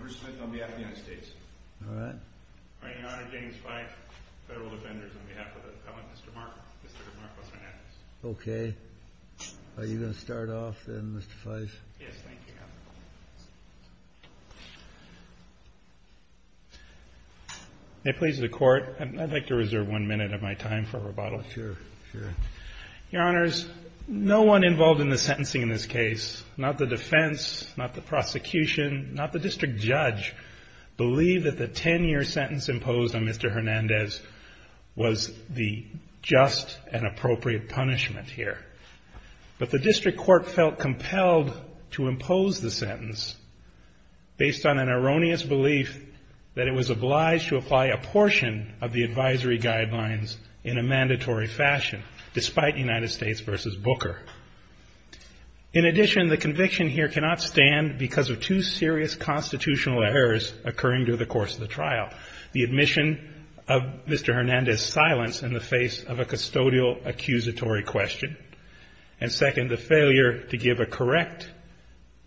Bruce Smith on behalf of the United States James Fyfe, Federal Defenders on behalf of the Appellant Mr. Mark Hernandez Are you going to start off then Mr. Fyfe? Yes, thank you. May it please the Court, I'd like to reserve one minute of my time for rebuttal. Sure, sure. Your Honors, no one involved in the sentencing in this case, not the defense, not the prosecution, not the district judge, believed that the 10-year sentence imposed on Mr. Hernandez was the just and appropriate punishment here. But the district court felt compelled to impose the sentence based on an erroneous belief that it was obliged to apply a portion of the United States v. Booker. In addition, the conviction here cannot stand because of two serious constitutional errors occurring during the course of the trial. The admission of Mr. Hernandez' silence in the face of a custodial accusatory question. And second, the failure to give a correct,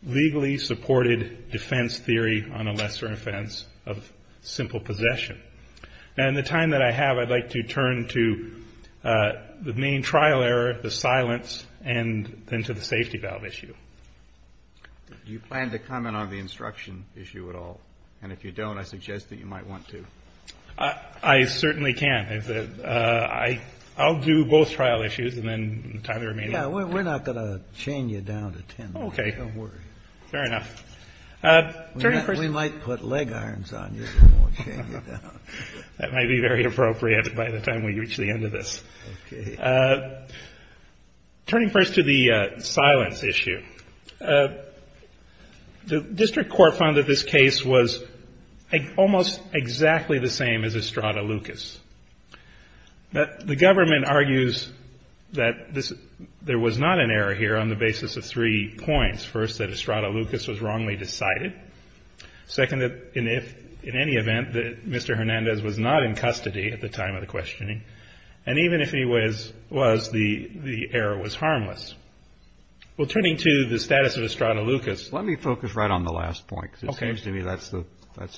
legally supported defense theory on a lesser offense of simple possession. Now, in the time that I have, I'd like to turn to the main trial error, the silence, and then to the safety valve issue. Do you plan to comment on the instruction issue at all? And if you don't, I suggest that you might want to. I certainly can. I'll do both trial issues and then entirely remain. Yeah, we're not going to chain you down to 10 minutes. Okay. Don't worry. Fair enough. We might put leg irons on you before we chain you down. That might be very appropriate by the time we reach the end of this. Okay. Turning first to the silence issue, the district court found that this case was almost exactly the same as Estrada Lucas. The government argues that there was not an error here on the basis of three points. First, that Estrada Lucas was wrongly decided. Second, in any event, that Mr. Hernandez was not in custody at the time of the questioning. And even if he was, the error was harmless. Well, turning to the status of Estrada Lucas. Let me focus right on the last point, because it seems to me that's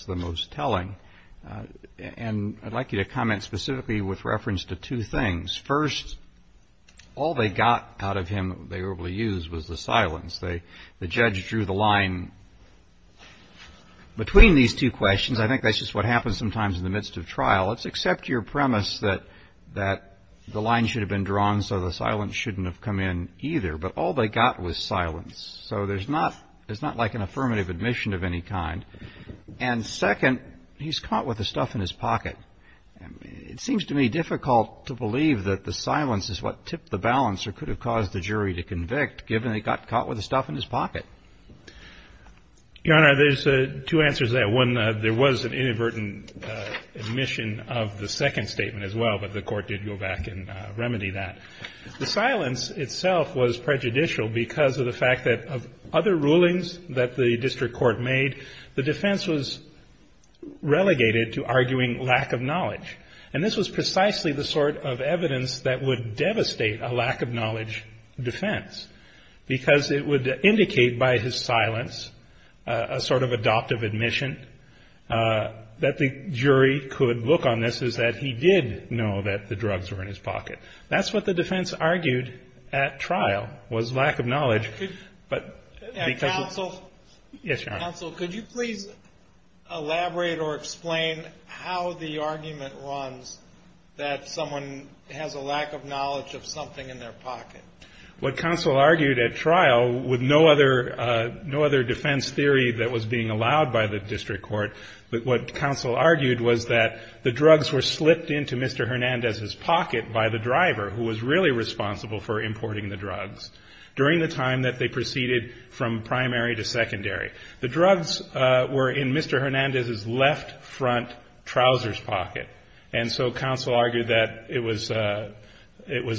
the most telling. And I'd like you to comment specifically with reference to two things. First, all they got out of him that they were able to use was the silence. The judge drew the line between these two questions. I think that's just what happens sometimes in the midst of trial. Let's accept your premise that the line should have been drawn so the silence shouldn't have come in either. But all they got was silence. So there's not like an affirmative admission of any kind. And second, he's caught with the stuff in his pocket. It seems to me difficult to believe that the silence is what tipped the balance or could have caused the jury to convict, given they got caught with the stuff in his pocket. Your Honor, there's two answers to that. One, there was an inadvertent admission of the second statement as well, but the Court did go back and remedy that. The silence itself was prejudicial because of the fact that of other rulings that the district court made, the defense was relegated to arguing lack of knowledge. And this was precisely the sort of evidence that would devastate a lack of knowledge defense because it would indicate by his silence a sort of adoptive admission that the jury could look on this, is that he did know that the drugs were in his pocket. That's what the defense argued at trial was lack of knowledge. Counsel? Yes, Your Honor. Counsel, could you please elaborate or explain how the argument runs that someone has a lack of knowledge of something in their pocket? What counsel argued at trial, with no other defense theory that was being allowed by the district court, what counsel argued was that the drugs were slipped into Mr. Hernandez's pocket by the driver, who was really responsible for importing the drugs. During the time that they proceeded from primary to secondary. The drugs were in Mr. Hernandez's left front trousers pocket, and so counsel argued that it was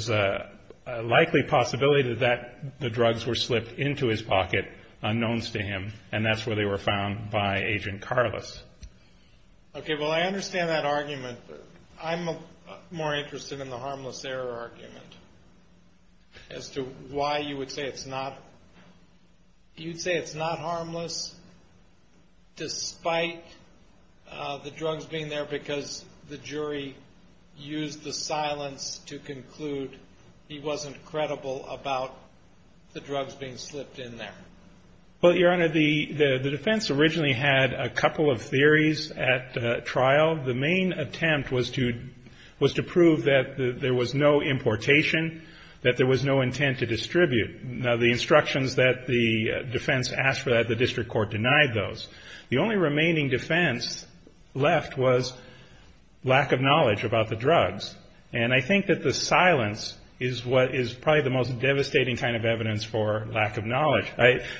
a likely possibility that the drugs were slipped into his pocket, unknowns to him, and that's where they were found by Agent Carlos. Okay, well, I understand that argument. I'm more interested in the harmless error argument as to why you would say it's not harmless, despite the drugs being there because the jury used the silence to conclude he wasn't credible about the drugs being slipped in there. Well, Your Honor, the defense originally had a couple of theories at trial. The main attempt was to prove that there was no importation, that there was no intent to distribute. Now, the instructions that the defense asked for that, the district court denied those. The only remaining defense left was lack of knowledge about the drugs, and I think that the silence is probably the most devastating kind of evidence for lack of knowledge.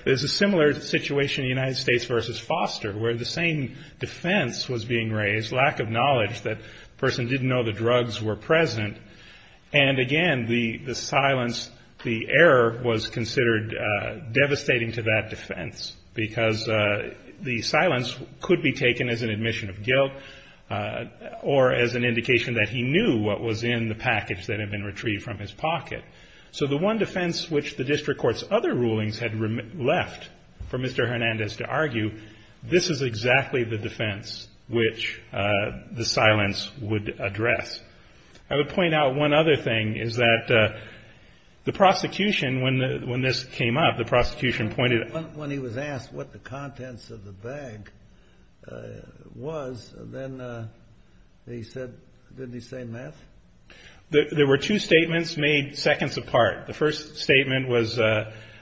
There's a similar situation in the United States versus Foster where the same defense was being raised, lack of knowledge that the person didn't know the drugs were present. And again, the silence, the error was considered devastating to that defense because the silence could be taken as an admission of guilt or as an indication that he knew what was in the package that had been retrieved from his pocket. So the one defense which the district court's other rulings had left for Mr. Hernandez to argue, this is exactly the defense which the silence would address. I would point out one other thing, is that the prosecution, when this came up, the prosecution pointed out. When he was asked what the contents of the bag was, then he said, didn't he say meth? There were two statements made seconds apart. The first statement was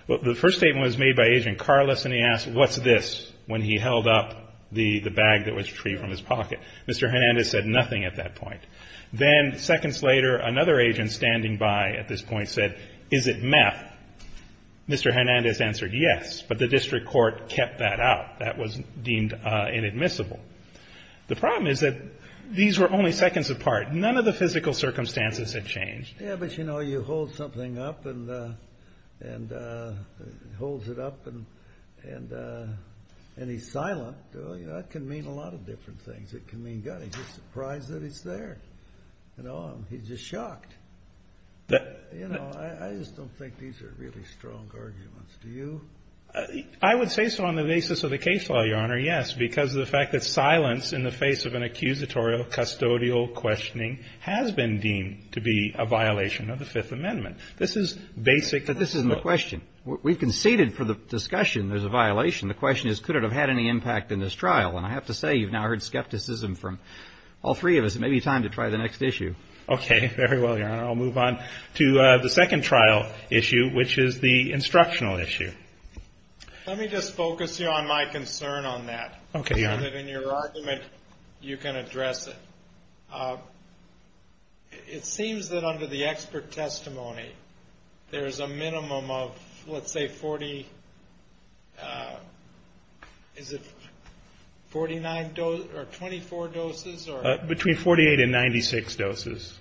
made by Agent Carlos, and he asked what's this when he held up the bag that was retrieved from his pocket. Mr. Hernandez said nothing at that point. Then seconds later, another agent standing by at this point said, is it meth? Mr. Hernandez answered yes, but the district court kept that out. That was deemed inadmissible. The problem is that these were only seconds apart. None of the physical circumstances had changed. Yeah, but, you know, you hold something up and he's silent. That can mean a lot of different things. It can mean, God, he's just surprised that it's there. He's just shocked. I just don't think these are really strong arguments. Do you? I would say so on the basis of the case law, Your Honor, yes, because of the fact that silence in the face of an accusatorial custodial questioning has been deemed to be a violation of the Fifth Amendment. This is basic. But this isn't the question. We've conceded for the discussion there's a violation. The question is, could it have had any impact in this trial? And I have to say, you've now heard skepticism from all three of us. It may be time to try the next issue. Okay. Very well, Your Honor. I'll move on to the second trial issue, which is the instructional issue. Let me just focus you on my concern on that. Okay, Your Honor. So that in your argument you can address it. It seems that under the expert testimony there's a minimum of, let's say, 40, is it 49 or 24 doses? Between 48 and 96 doses.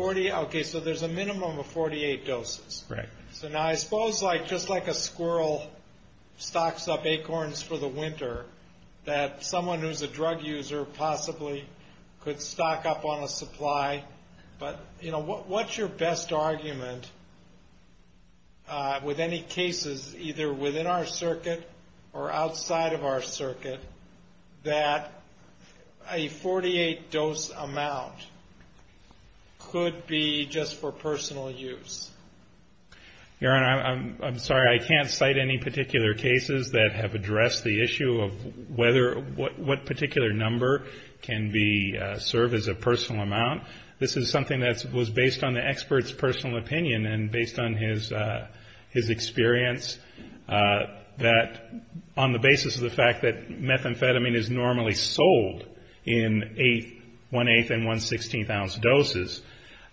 Okay, so there's a minimum of 48 doses. Right. So now I suppose just like a squirrel stocks up acorns for the winter, that someone who's a drug user possibly could stock up on a supply. But, you know, what's your best argument with any cases, either within our circuit or outside of our circuit, that a 48-dose amount could be just for personal use? Your Honor, I'm sorry, I can't cite any particular cases that have addressed the issue of whether or what particular number can be served as a personal amount. This is something that was based on the expert's personal opinion and based on his experience, that on the basis of the fact that methamphetamine is normally sold in 1-8th and 1-16th ounce doses,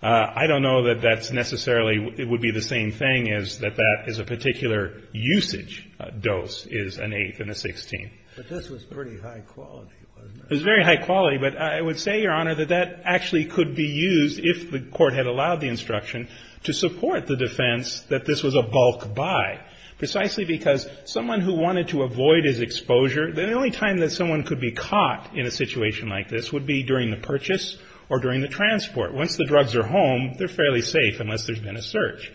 I don't know that that's necessarily it would be the same thing as that that is a particular usage dose is an 8th and a 16th. But this was pretty high quality, wasn't it? It was very high quality, but I would say, Your Honor, that that actually could be used, if the Court had allowed the instruction, to support the defense that this was a bulk buy, precisely because someone who wanted to avoid his exposure, the only time that someone could be caught in a situation like this would be during the purchase or during the transport. Once the drugs are home, they're fairly safe unless there's been a search.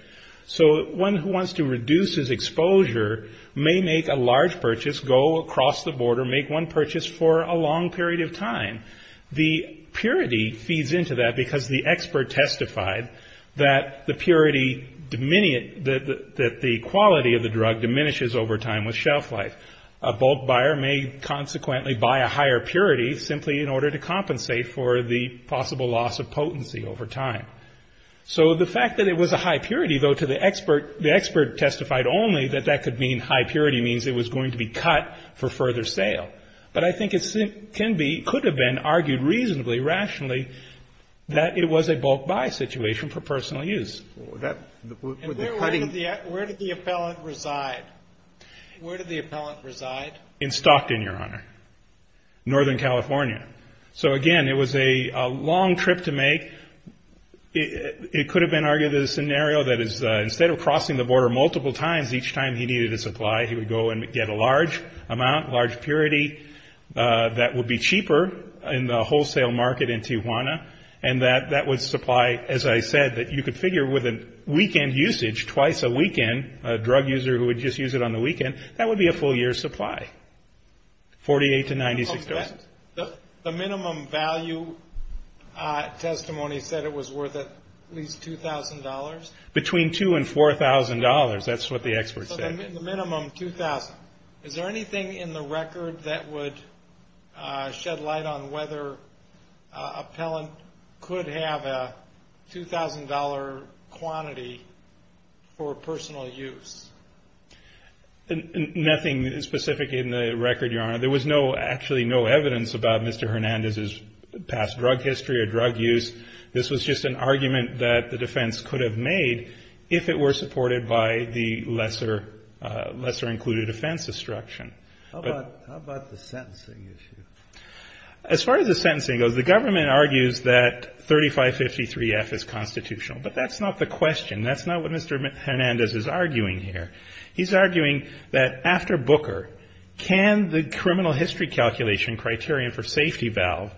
So one who wants to reduce his exposure may make a large purchase, go across the border, make one purchase for a long period of time. The purity feeds into that because the expert testified that the purity, that the quality of the drug diminishes over time with shelf life. A bulk buyer may consequently buy a higher purity simply in order to compensate for the possible loss of potency over time. So the fact that it was a high purity, though, to the expert, the expert testified only that that could mean high purity means it was going to be cut for further sale. But I think it could have been argued reasonably, rationally, that it was a bulk buy situation for personal use. And where did the appellant reside? Where did the appellant reside? In Stockton, Your Honor, Northern California. So, again, it was a long trip to make. It could have been argued as a scenario that instead of crossing the border multiple times each time he needed a supply, he would go and get a large amount, large purity, that would be cheaper in the wholesale market in Tijuana, and that would supply, as I said, that you could figure with a weekend usage, twice a weekend, a drug user who would just use it on the weekend, that would be a full year's supply, 48 to 96,000. The minimum value testimony said it was worth at least $2,000? Between $2,000 and $4,000. That's what the expert said. So the minimum, 2,000. Is there anything in the record that would shed light on whether an appellant could have a $2,000 quantity for personal use? Nothing specific in the record, Your Honor. There was no, actually no evidence about Mr. Hernandez's past drug history or drug use. This was just an argument that the defense could have made if it were supported by the lesser included offense instruction. How about the sentencing issue? As far as the sentencing goes, the government argues that 3553F is constitutional, but that's not the question. That's not what Mr. Hernandez is arguing here. He's arguing that after Booker, can the criminal history calculation criterion for safety valve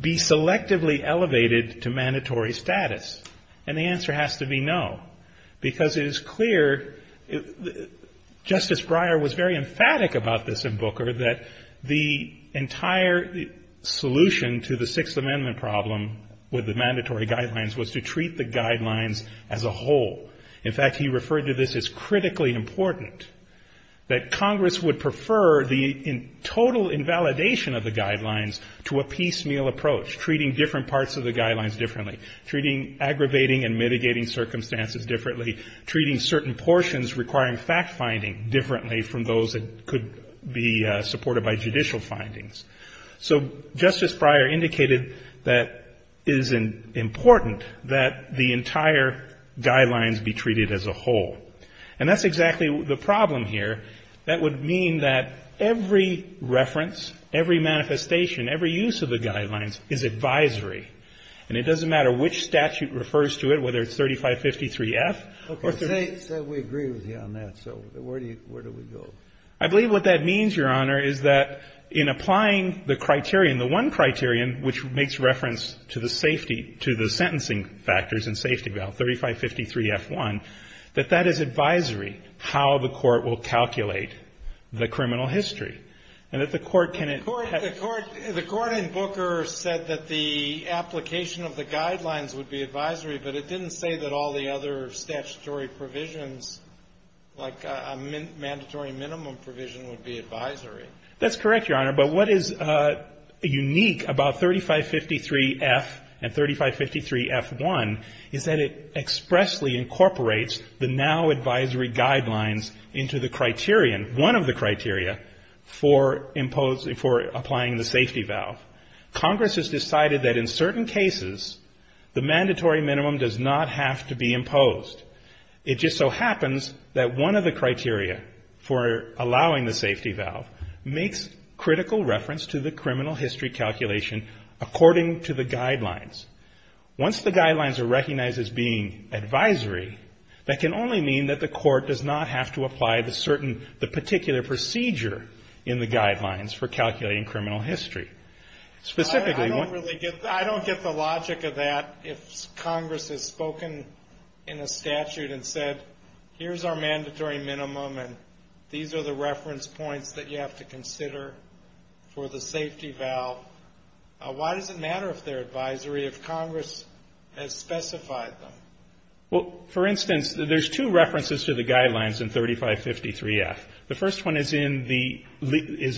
be selectively elevated to mandatory status? And the answer has to be no. Because it is clear, Justice Breyer was very emphatic about this in Booker, that the entire solution to the Sixth Amendment problem with the mandatory guidelines was to treat the guidelines as a whole. In fact, he referred to this as critically important, that Congress would prefer the total invalidation of the guidelines to a piecemeal approach, treating different parts of the guidelines differently, treating aggravating and mitigating circumstances differently, treating certain portions requiring fact-finding differently from those that could be supported by judicial findings. So Justice Breyer indicated that it is important that the entire guidelines be treated as a whole. And that's exactly the problem here. That would mean that every reference, every manifestation, every use of the guidelines is advisory. And it doesn't matter which statute refers to it, whether it's 3553F or 3553F. Kennedy. Okay. Say we agree with you on that. So where do we go? I believe what that means, Your Honor, is that in applying the criterion, the one criterion, which makes reference to the safety, to the sentencing factors and safety valve, 3553F1, that that is advisory, how the court will calculate the criminal history. And that the court can at the court. The court in Booker said that the application of the guidelines would be advisory, but it didn't say that all the other statutory provisions, like a mandatory minimum provision, would be advisory. That's correct, Your Honor. But what is unique about 3553F and 3553F1 is that it expressly incorporates the now advisory guidelines into the criterion, one of the criteria, for applying the safety valve. Congress has decided that in certain cases the mandatory minimum does not have to be imposed. It just so happens that one of the criteria for allowing the safety valve makes critical reference to the criminal history calculation according to the guidelines. Once the guidelines are recognized as being advisory, that can only mean that the court does not have to apply the certain, the particular procedure in the guidelines for calculating criminal history. I don't get the logic of that if Congress has spoken in a statute and said, here's our mandatory minimum and these are the reference points that you have to consider for the safety valve. Why does it matter if they're advisory if Congress has specified them? Well, for instance, there's two references to the guidelines in 3553F. The first one is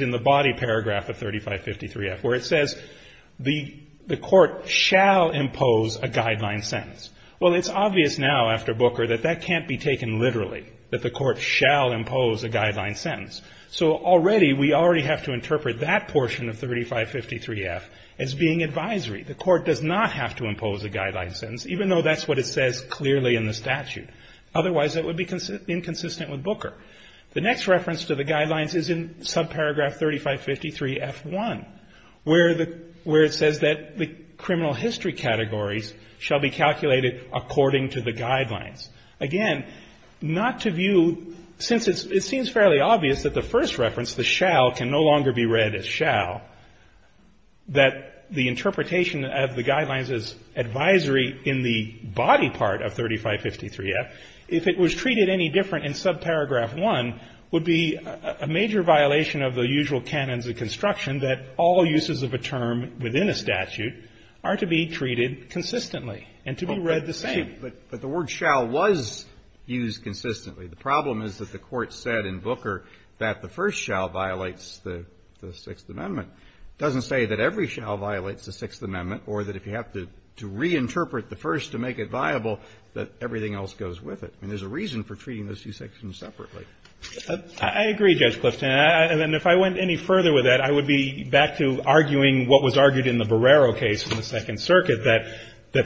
in the body paragraph of 3553F where it says the court shall impose a guideline sentence. Well, it's obvious now after Booker that that can't be taken literally, that the court shall impose a guideline sentence. So already we already have to interpret that portion of 3553F as being advisory. The court does not have to impose a guideline sentence, even though that's what it says clearly in the statute. Otherwise it would be inconsistent with Booker. The next reference to the guidelines is in subparagraph 3553F1 where it says that the criminal history categories shall be calculated according to the guidelines. Again, not to view, since it seems fairly obvious that the first reference, the shall, can no longer be read as shall, that the interpretation of the guidelines is advisory in the body part of 3553F. If it was treated any different in subparagraph 1, it would be a major violation of the usual canons of construction that all uses of a term within a statute are to be treated consistently and to be read the same. But the word shall was used consistently. The problem is that the Court said in Booker that the first shall violates the Sixth Amendment. It doesn't say that every shall violates the Sixth Amendment or that if you have to reinterpret the first to make it viable, that everything else goes with it. I mean, there's a reason for treating those two sections separately. I agree, Judge Clifton, and if I went any further with that, I would be back to arguing what was argued in the Barrero case in the Second Circuit, that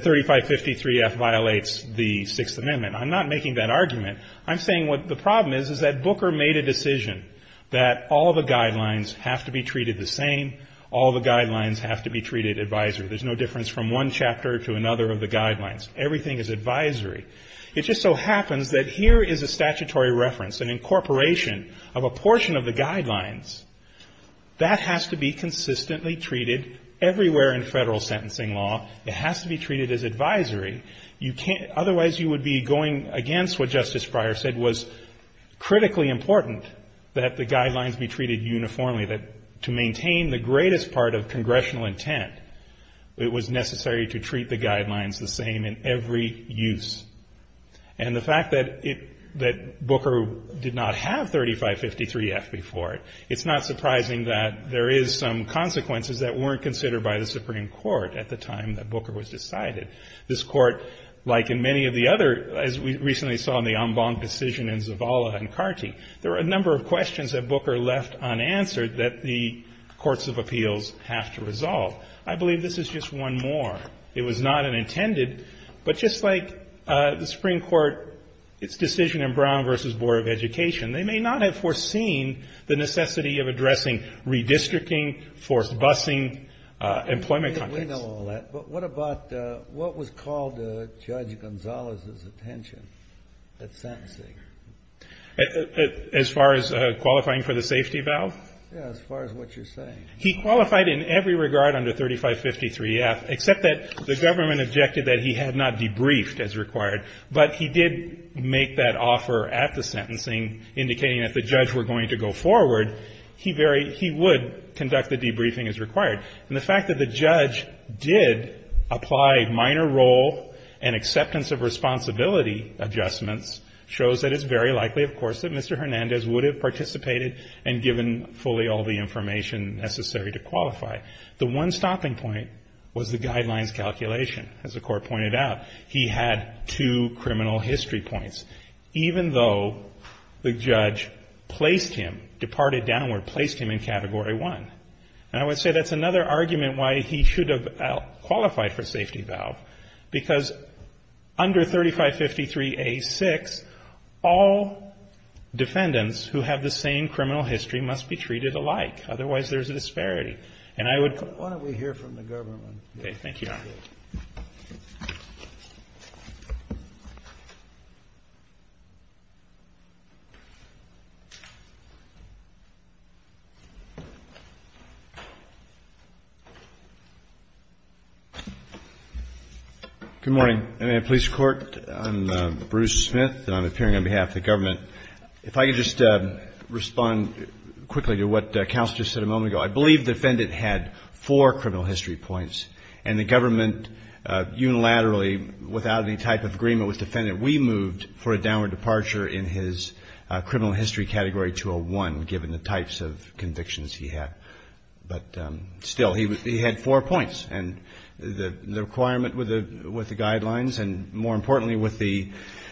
3553F violates the Sixth Amendment. I'm not making that argument. I'm saying what the problem is, is that Booker made a decision that all the guidelines have to be treated the same, all the guidelines have to be treated advisory. There's no difference from one chapter to another of the guidelines. Everything is advisory. It just so happens that here is a statutory reference, an incorporation of a portion of the guidelines. That has to be consistently treated everywhere in Federal sentencing law. It has to be treated as advisory. Otherwise, you would be going against what Justice Breyer said was critically important that the guidelines be treated uniformly, that to maintain the greatest part of congressional intent, it was necessary to treat the guidelines the same in every use. And the fact that Booker did not have 3553F before it, it's not surprising that there is some consequences that weren't considered by the Supreme Court at the time that Booker was decided. This Court, like in many of the other, as we recently saw in the en banc decision in Zavala and Carty, there were a number of questions that Booker left unanswered that the courts of appeals have to resolve. I believe this is just one more. It was not an intended. But just like the Supreme Court, its decision in Brown v. Board of Education, they may not have foreseen the necessity of addressing redistricting, forced busing, employment contracts. We know all that. But what about what was called Judge Gonzalez's attention at sentencing? As far as qualifying for the safety valve? Yeah, as far as what you're saying. He qualified in every regard under 3553F, except that the government objected that he had not debriefed as required. But he did make that offer at the sentencing, indicating that if the judge were going to go forward, he would conduct the debriefing as required. And the fact that the judge did apply minor role and acceptance of responsibility adjustments shows that it's very likely, of course, that Mr. Hernandez would have participated and given fully all the information necessary to qualify. The one stopping point was the guidelines calculation. As the Court pointed out, he had two criminal history points, even though the judge placed him, departed downward, placed him in Category 1. And I would say that's another argument why he should have qualified for safety valve, because under 3553A6, all defendants who have the same criminal history must be treated alike. Otherwise, there's a disparity. And I would... Why don't we hear from the government? Okay, thank you, Your Honor. Good morning. I'm Bruce Smith, and I'm appearing on behalf of the government. If I could just respond quickly to what Counsel just said a moment ago. I believe the defendant had four criminal history points, and the government unilaterally, without any type of agreement with the defendant, we moved for a downward departure in his criminal history Category 201, given the types of convictions he had. But still, he had four points. And the requirement with the guidelines, and more importantly with the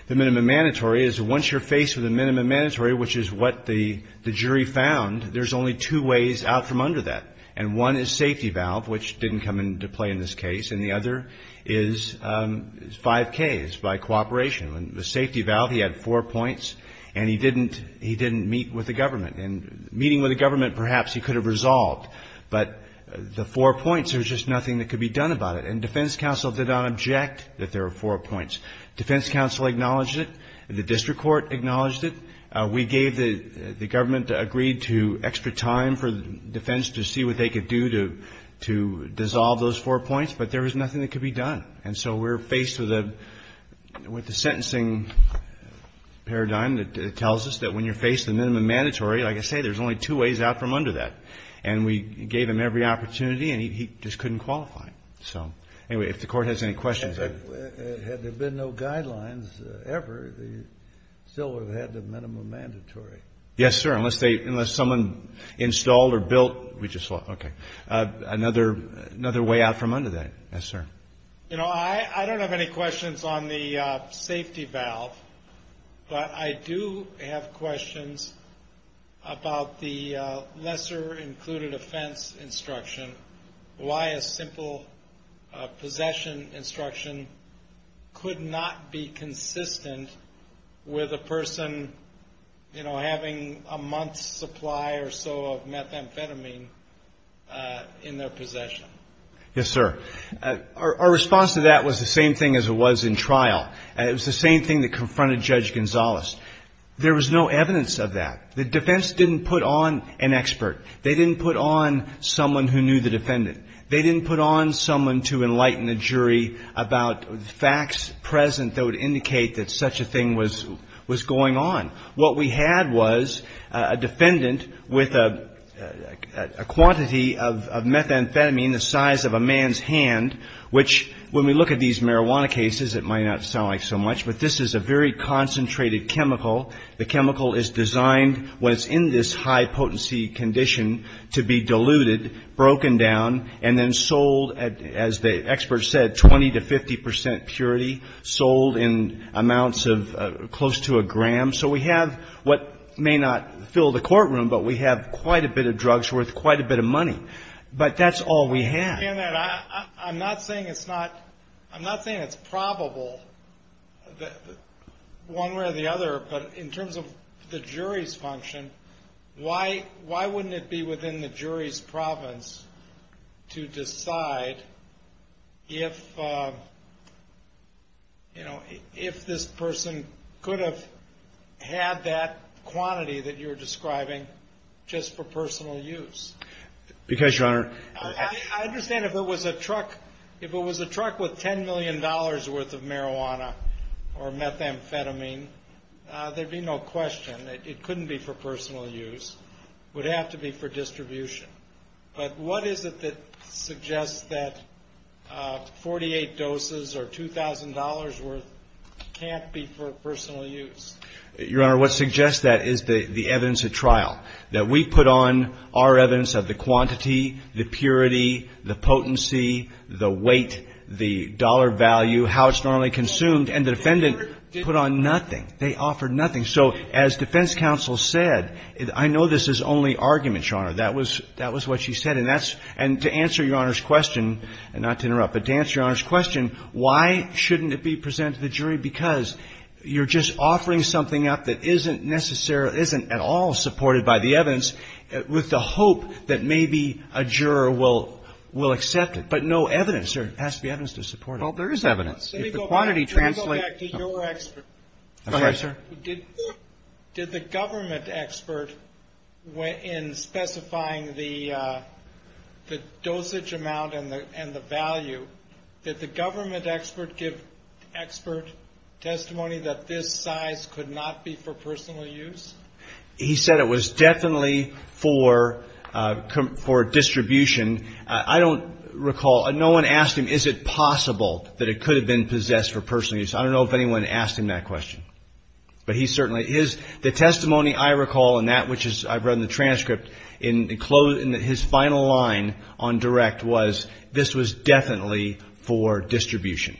minimum mandatory, is once you're faced with a minimum mandatory, which is what the jury found, there's only two ways out from under that. And one is safety valve, which didn't come into play in this case. And the other is 5K, is by cooperation. The safety valve, he had four points, and he didn't meet with the government. And meeting with the government, perhaps he could have resolved. But the four points, there was just nothing that could be done about it. And defense counsel did not object that there were four points. Defense counsel acknowledged it. The district court acknowledged it. We gave the government agreed to extra time for defense to see what they could do to dissolve those four points. But there was nothing that could be done. And so we're faced with the sentencing paradigm that tells us that when you're faced with a minimum mandatory, like I say, there's only two ways out from under that. And we gave him every opportunity, and he just couldn't qualify. So, anyway, if the court has any questions. Had there been no guidelines ever, they still would have had the minimum mandatory. Yes, sir. Unless someone installed or built. Okay. Another way out from under that. Yes, sir. You know, I don't have any questions on the safety valve. But I do have questions about the lesser included offense instruction. Why a simple possession instruction could not be consistent with a person, you know, having a month's supply or so of methamphetamine in their possession. Yes, sir. Our response to that was the same thing as it was in trial. It was the same thing that confronted Judge Gonzales. There was no evidence of that. The defense didn't put on an expert. They didn't put on someone who knew the defendant. They didn't put on someone to enlighten the jury about facts present that would indicate that such a thing was going on. What we had was a defendant with a quantity of methamphetamine the size of a man's hand, which when we look at these marijuana cases, it might not sound like so much, but this is a very concentrated chemical. The chemical is designed, when it's in this high potency condition, to be diluted, broken down, and then sold, as the expert said, 20 to 50 percent purity, sold in amounts of close to a gram. So we have what may not fill the courtroom, but we have quite a bit of drugs worth quite a bit of money. But that's all we had. I'm not saying it's probable one way or the other, but in terms of the jury's function, why wouldn't it be within the jury's province to decide if, you know, if this person could have had that quantity that you're describing just for personal use? Because, Your Honor. I understand if it was a truck with $10 million worth of marijuana or methamphetamine, there'd be no question. It couldn't be for personal use. It would have to be for distribution. But what is it that suggests that 48 doses or $2,000 worth can't be for personal use? Your Honor, what suggests that is the evidence at trial, that we put on our evidence of the quantity, the purity, the potency, the weight, the dollar value, how it's normally consumed, and the defendant put on nothing. They offered nothing. So as defense counsel said, I know this is only argument, Your Honor. That was what she said. And that's to answer Your Honor's question, and not to interrupt, but to answer Your Honor's question, why shouldn't it be presented to the jury? Because you're just offering something up that isn't necessarily, isn't at all supported by the evidence with the hope that maybe a juror will accept it. But no evidence. There has to be evidence to support it. Well, there is evidence. Let me go back to your expert. Go ahead, sir. Did the government expert, in specifying the dosage amount and the value, did the government expert give expert testimony that this size could not be for personal use? He said it was definitely for distribution. I don't recall, no one asked him, is it possible that it could have been possessed for personal use? I don't know if anyone asked him that question. But he certainly, his, the testimony I recall, and that which is, I've read in the transcript, in his final line on direct was this was definitely for distribution.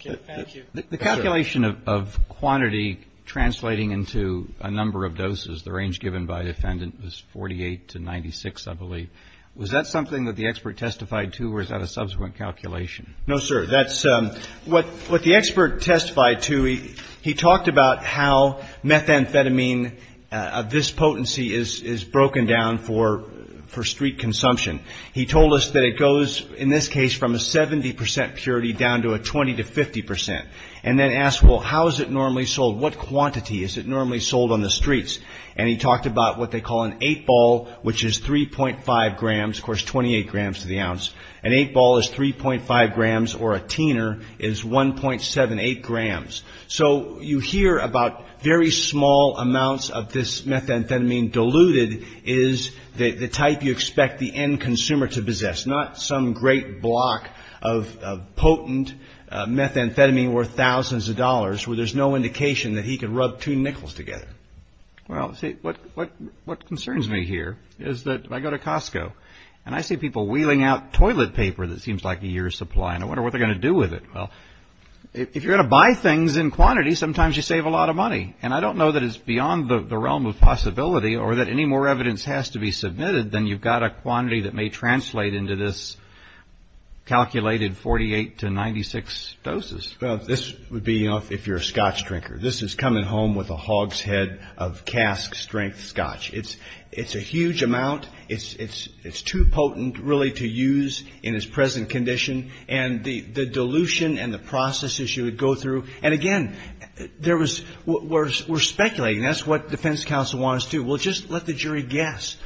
Thank you. The calculation of quantity translating into a number of doses, the range given by defendant was 48 to 96, I believe. Was that something that the expert testified to, or is that a subsequent calculation? No, sir. That's what the expert testified to. He talked about how methamphetamine, this potency, is broken down for street consumption. He told us that it goes, in this case, from a 70% purity down to a 20 to 50%. And then asked, well, how is it normally sold? What quantity is it normally sold on the streets? And he talked about what they call an eight ball, which is 3.5 grams, of course, 28 grams to the ounce. An eight ball is 3.5 grams, or a teener is 1.78 grams. So you hear about very small amounts of this methamphetamine diluted is the type you expect the end consumer to possess, not some great block of potent methamphetamine worth thousands of dollars where there's no indication that he could rub two nickels together. Well, see, what concerns me here is that I go to Costco, and I see people wheeling out toilet paper that seems like a year's supply, and I wonder what they're going to do with it. Well, if you're going to buy things in quantity, sometimes you save a lot of money. And I don't know that it's beyond the realm of possibility or that any more evidence has to be submitted than you've got a quantity that may translate into this calculated 48 to 96 doses. Well, this would be, you know, if you're a scotch drinker. This is coming home with a hog's head of cask-strength scotch. It's a huge amount. It's too potent, really, to use in its present condition. And the dilution and the process issue would go through. And, again, there was we're speculating. That's what defense counsel wants to do. Well, just let the jury guess.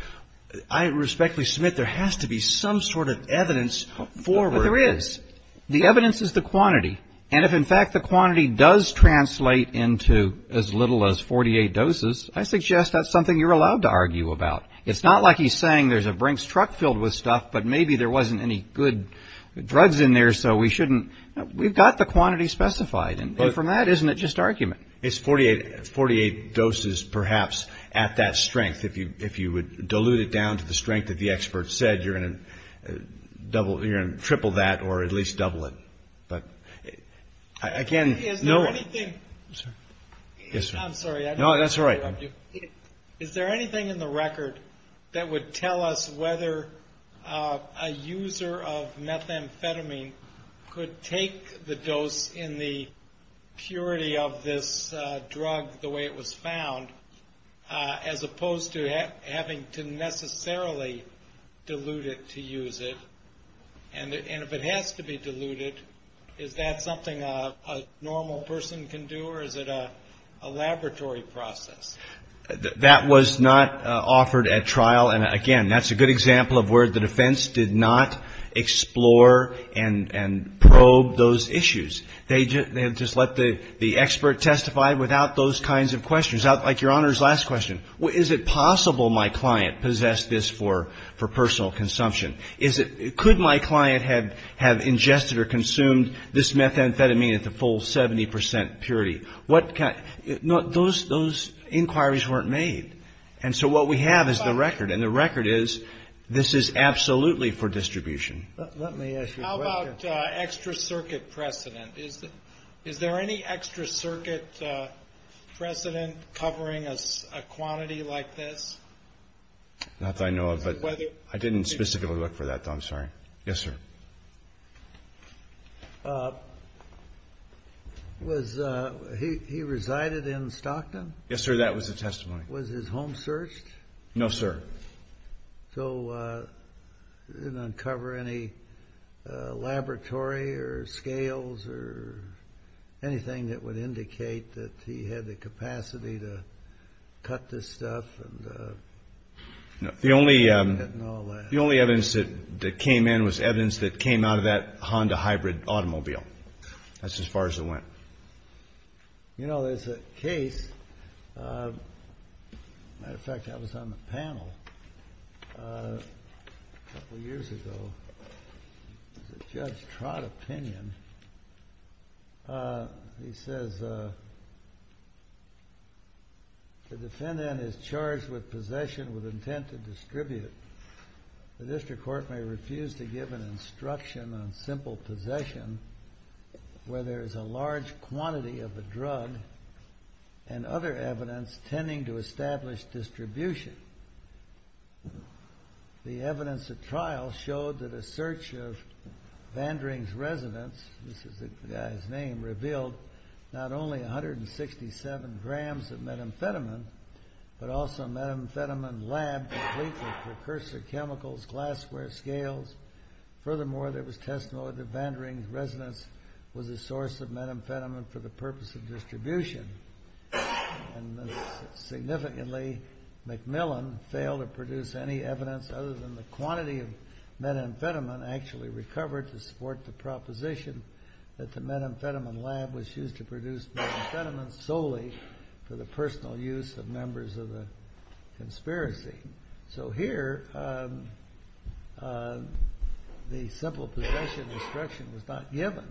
I respectfully submit there has to be some sort of evidence forward. There is. The evidence is the quantity. And if, in fact, the quantity does translate into as little as 48 doses, I suggest that's something you're allowed to argue about. It's not like he's saying there's a Brinks truck filled with stuff, but maybe there wasn't any good drugs in there, so we shouldn't. We've got the quantity specified. And from that, isn't it just argument? It's 48 doses, perhaps, at that strength. If you would dilute it down to the strength that the expert said, you're going to triple that or at least double it. But, again, no. I'm sorry. No, that's all right. Is there anything in the record that would tell us whether a user of methamphetamine could take the dose in the purity of this drug the way it was found, as opposed to having to necessarily dilute it to use it? And if it has to be diluted, is that something a normal person can do or is it a laboratory process? That was not offered at trial. And, again, that's a good example of where the defense did not explore and probe those issues. They just let the expert testify without those kinds of questions, like Your Honor's last question. Is it possible my client possessed this for personal consumption? Could my client have ingested or consumed this methamphetamine at the full 70% purity? Those inquiries weren't made. And so what we have is the record, and the record is this is absolutely for distribution. How about extra circuit precedent? Is there any extra circuit precedent covering a quantity like this? Not that I know of, but I didn't specifically look for that, though. I'm sorry. Yes, sir. He resided in Stockton? Yes, sir. That was the testimony. Was his home searched? No, sir. So didn't uncover any laboratory or scales or anything that would indicate that he had the capacity to cut this stuff The only evidence that came in was evidence that came out of that Honda hybrid automobile. That's as far as it went. You know, there's a case. As a matter of fact, that was on the panel a couple years ago. It was a Judge Trott opinion. He says, The defendant is charged with possession with intent to distribute. The district court may refuse to give an instruction on simple possession where there is a large quantity of the drug and other evidence tending to establish distribution. The evidence at trial showed that a search of Vandering's residence This is the guy's name revealed not only 167 grams of methamphetamine but also a methamphetamine lab complete with precursor chemicals, glassware, scales. Furthermore, there was testimony that Vandering's residence And significantly, Macmillan failed to produce any evidence other than the quantity of methamphetamine actually recovered to support the proposition that the methamphetamine lab was used to produce methamphetamine solely for the personal use of members of the conspiracy. So here, the simple possession instruction was not given.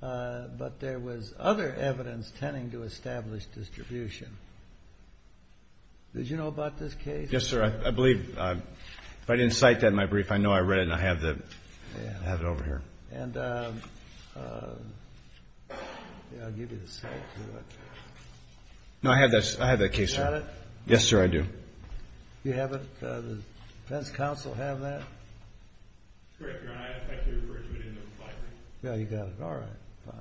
But there was other evidence tending to establish distribution. Did you know about this case? Yes, sir. I believe. If I didn't cite that in my brief, I know I read it and I have it over here. No, I have that case, sir. You have it? Yes, sir, I do. You have it? Does the defense counsel have that? It's correct, Your Honor. I actually referred to it in the filing. Yeah, you got it. All right. Fine.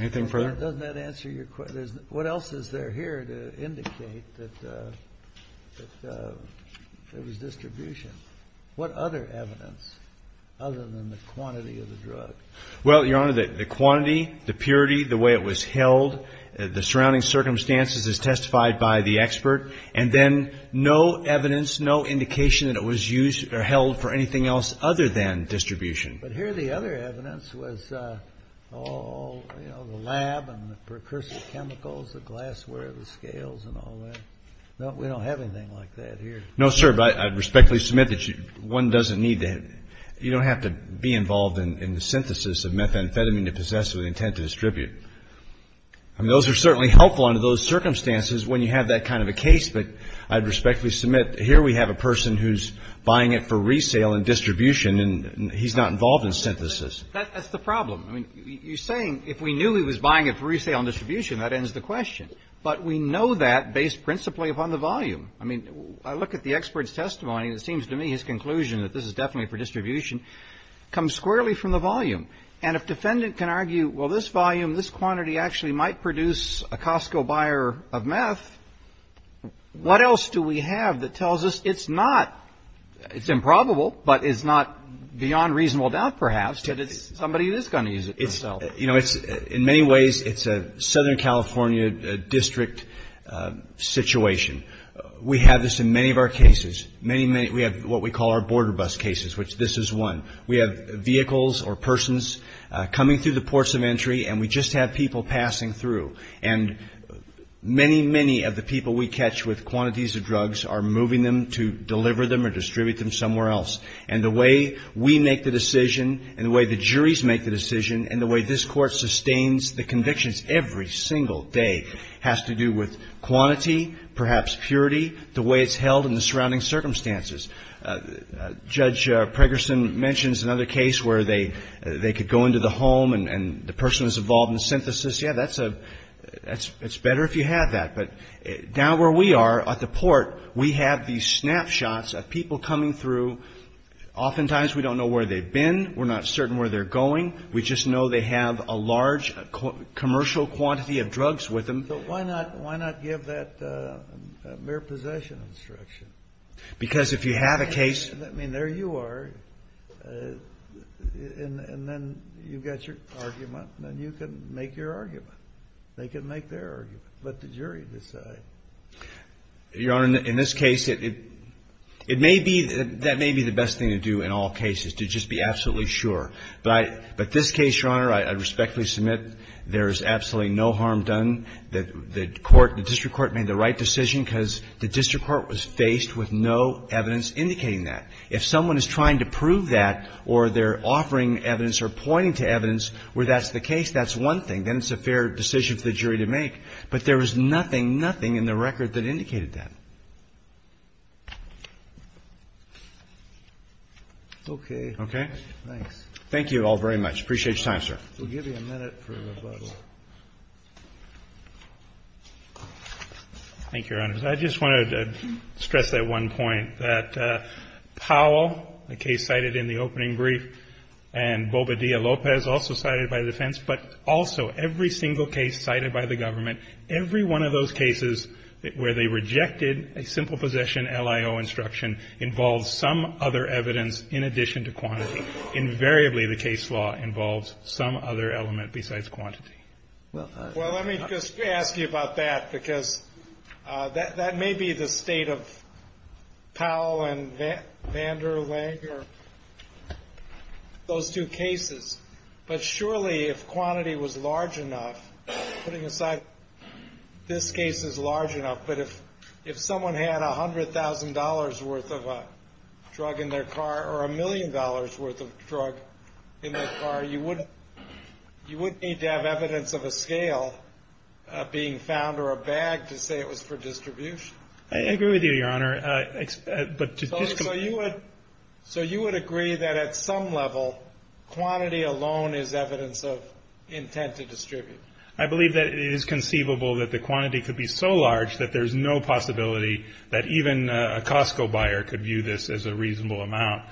Anything further? Doesn't that answer your question? What else is there here to indicate that there was distribution? What other evidence other than the quantity of the drug? Well, Your Honor, the quantity, the purity, the way it was held, the surrounding circumstances as testified by the expert, and then no evidence, no indication that it was used or held for anything else other than distribution. But here the other evidence was all, you know, the lab and the precursor chemicals, the glassware, the scales and all that. We don't have anything like that here. No, sir, but I respectfully submit that one doesn't need to have to be involved in the synthesis of methamphetamine to possess with the intent to distribute. I mean, those are certainly helpful under those circumstances when you have that kind of a case. But I'd respectfully submit here we have a person who's buying it for resale and distribution, and he's not involved in synthesis. That's the problem. I mean, you're saying if we knew he was buying it for resale and distribution, that ends the question. But we know that based principally upon the volume. I mean, I look at the expert's testimony, and it seems to me his conclusion that this is definitely for distribution comes squarely from the volume. And if defendant can argue, well, this volume, this quantity actually might produce a Costco buyer of meth, what else do we have that tells us it's not – it's improbable, but it's not beyond reasonable doubt perhaps that it's somebody who is going to use it for sale? You know, in many ways it's a Southern California district situation. We have this in many of our cases. We have what we call our border bus cases, which this is one. We have vehicles or persons coming through the ports of entry, and we just have people passing through. And many, many of the people we catch with quantities of drugs are moving them to deliver them or distribute them somewhere else. And the way we make the decision and the way the juries make the decision and the way this Court sustains the convictions every single day has to do with quantity, perhaps purity, the way it's held and the surrounding circumstances. Judge Pregerson mentions another case where they could go into the home and the person was involved in synthesis. Yeah, that's a – it's better if you have that. But down where we are at the port, we have these snapshots of people coming through. Oftentimes we don't know where they've been. We're not certain where they're going. We just know they have a large commercial quantity of drugs with them. But why not give that mere possession instruction? Because if you have a case – I mean, there you are. And then you've got your argument, and then you can make your argument. They can make their argument. Let the jury decide. Your Honor, in this case, it may be – that may be the best thing to do in all cases, to just be absolutely sure. But I – but this case, Your Honor, I respectfully submit there is absolutely no harm done. The court – the district court made the right decision because the district court was faced with no evidence indicating that. If someone is trying to prove that or they're offering evidence or pointing to evidence where that's the case, that's one thing. Then it's a fair decision for the jury to make. But there was nothing, nothing in the record that indicated that. Okay. Okay? Thanks. Thank you all very much. I appreciate your time, sir. We'll give you a minute for rebuttal. Thank you, Your Honors. I just wanted to stress that one point, that Powell, the case cited in the opening brief, and Bobadilla-Lopez, also cited by the defense, but also every single case cited by the government, every one of those cases where they rejected a simple possession LIO instruction involves some other evidence in addition to quantity. Invariably, the case law involves some other element besides quantity. Well, let me just ask you about that because that may be the state of Powell and Vanderleg or those two cases. But surely if quantity was large enough, putting aside this case is large enough, but if someone had $100,000 worth of drug in their car or a million dollars worth of drug in their car, you wouldn't need to have evidence of a scale being found or a bag to say it was for distribution. I agree with you, Your Honor. So you would agree that at some level quantity alone is evidence of intent to distribute? I believe that it is conceivable that the quantity could be so large that there is no possibility that even a Costco buyer could view this as a reasonable amount.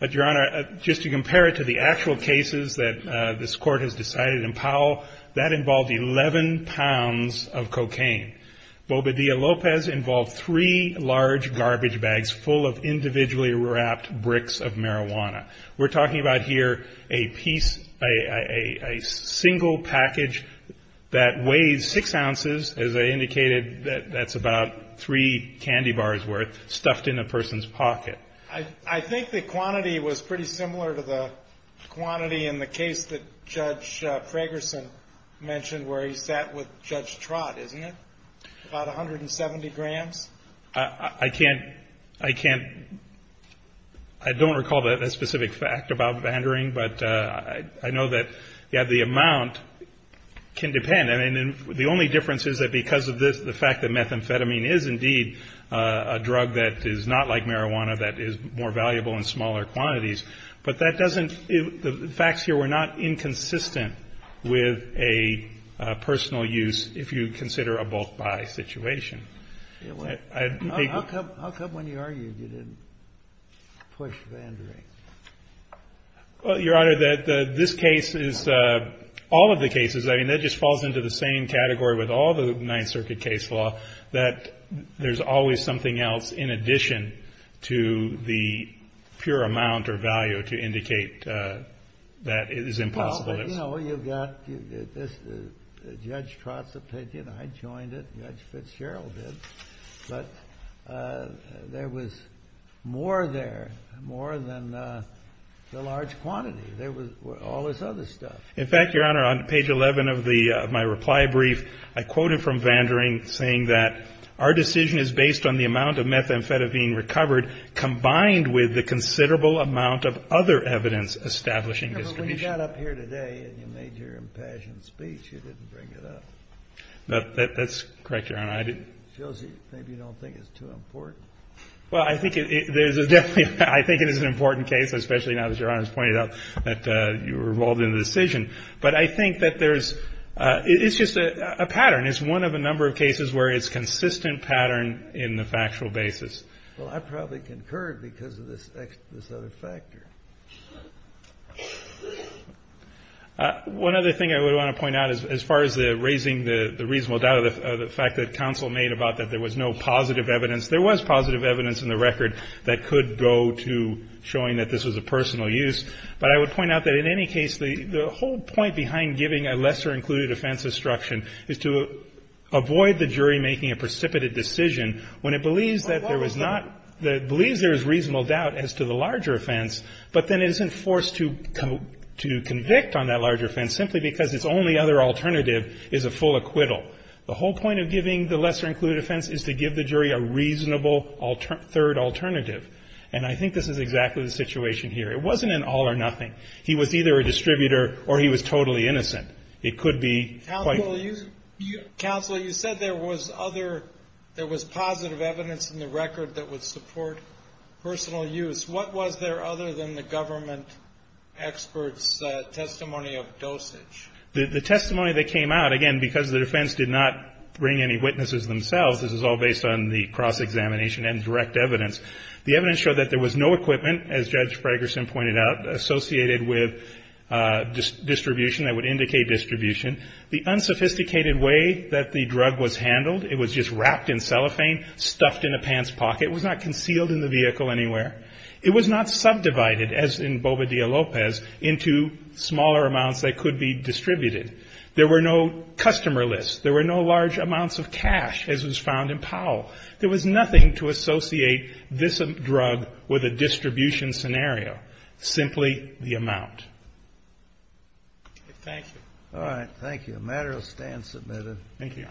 But, Your Honor, just to compare it to the actual cases that this Court has decided in Powell, that involved 11 pounds of cocaine. Bobadilla-Lopez involved three large garbage bags full of individually wrapped bricks of marijuana. We're talking about here a piece, a single package that weighs six ounces, as I indicated that that's about three candy bars worth, stuffed in a person's pocket. I think the quantity was pretty similar to the quantity in the case that Judge Fragerson mentioned where he sat with Judge Trott, isn't it? About 170 grams? I can't, I can't, I don't recall a specific fact about Vandering, but I know that the amount can depend. And the only difference is that because of the fact that methamphetamine is indeed a drug that is not like marijuana, that is more valuable in smaller quantities. But that doesn't, the facts here were not inconsistent with a personal use if you consider a bulk buy situation. How come when you argued you didn't push Vandering? Well, Your Honor, this case is, all of the cases, I mean that just falls into the same category with all the Ninth Circuit case law, that there's always something else in addition to the pure amount or value to indicate that it is impossible. Well, you know, you've got Judge Trott's opinion, I joined it, Judge Fitzgerald did, but there was more there, more than the large quantity. There was all this other stuff. In fact, Your Honor, on page 11 of my reply brief, I quoted from Vandering saying that our decision is based on the amount of methamphetamine recovered combined with the considerable amount of other evidence establishing discrimination. When you got up here today and you made your impassioned speech, you didn't bring it up. That's correct, Your Honor. It shows you maybe you don't think it's too important. Well, I think it is an important case, especially now that Your Honor has pointed out that you were involved in the decision. But I think that there's, it's just a pattern. It's one of a number of cases where it's a consistent pattern in the factual basis. Well, I probably concurred because of this other factor. One other thing I would want to point out as far as raising the reasonable doubt of the fact that counsel made about that there was no positive evidence. There was positive evidence in the record that could go to showing that this was a personal use. But I would point out that in any case, the whole point behind giving a lesser-included offense instruction is to avoid the jury making a precipitated decision when it believes that there was not, believes there is reasonable doubt as to the larger offense, but then isn't forced to convict on that larger offense simply because its only other alternative is a full acquittal. The whole point of giving the lesser-included offense is to give the jury a reasonable third alternative. And I think this is exactly the situation here. It wasn't an all or nothing. He was either a distributor or he was totally innocent. It could be quite different. Counsel, you said there was other, there was positive evidence in the record that would support personal use. What was there other than the government expert's testimony of dosage? The testimony that came out, again, because the defense did not bring any witnesses themselves, this is all based on the cross-examination and direct evidence. The evidence showed that there was no equipment, as Judge Fragerson pointed out, associated with distribution that would indicate distribution. The unsophisticated way that the drug was handled, it was just wrapped in cellophane, stuffed in a pants pocket, it was not concealed in the vehicle anywhere. It was not subdivided, as in Boba Dia Lopez, into smaller amounts that could be distributed. There were no customer lists. There were no large amounts of cash, as was found in Powell. There was nothing to associate this drug with a distribution scenario, simply the amount. Thank you. All right. Thank you. Thank you, Your Honor.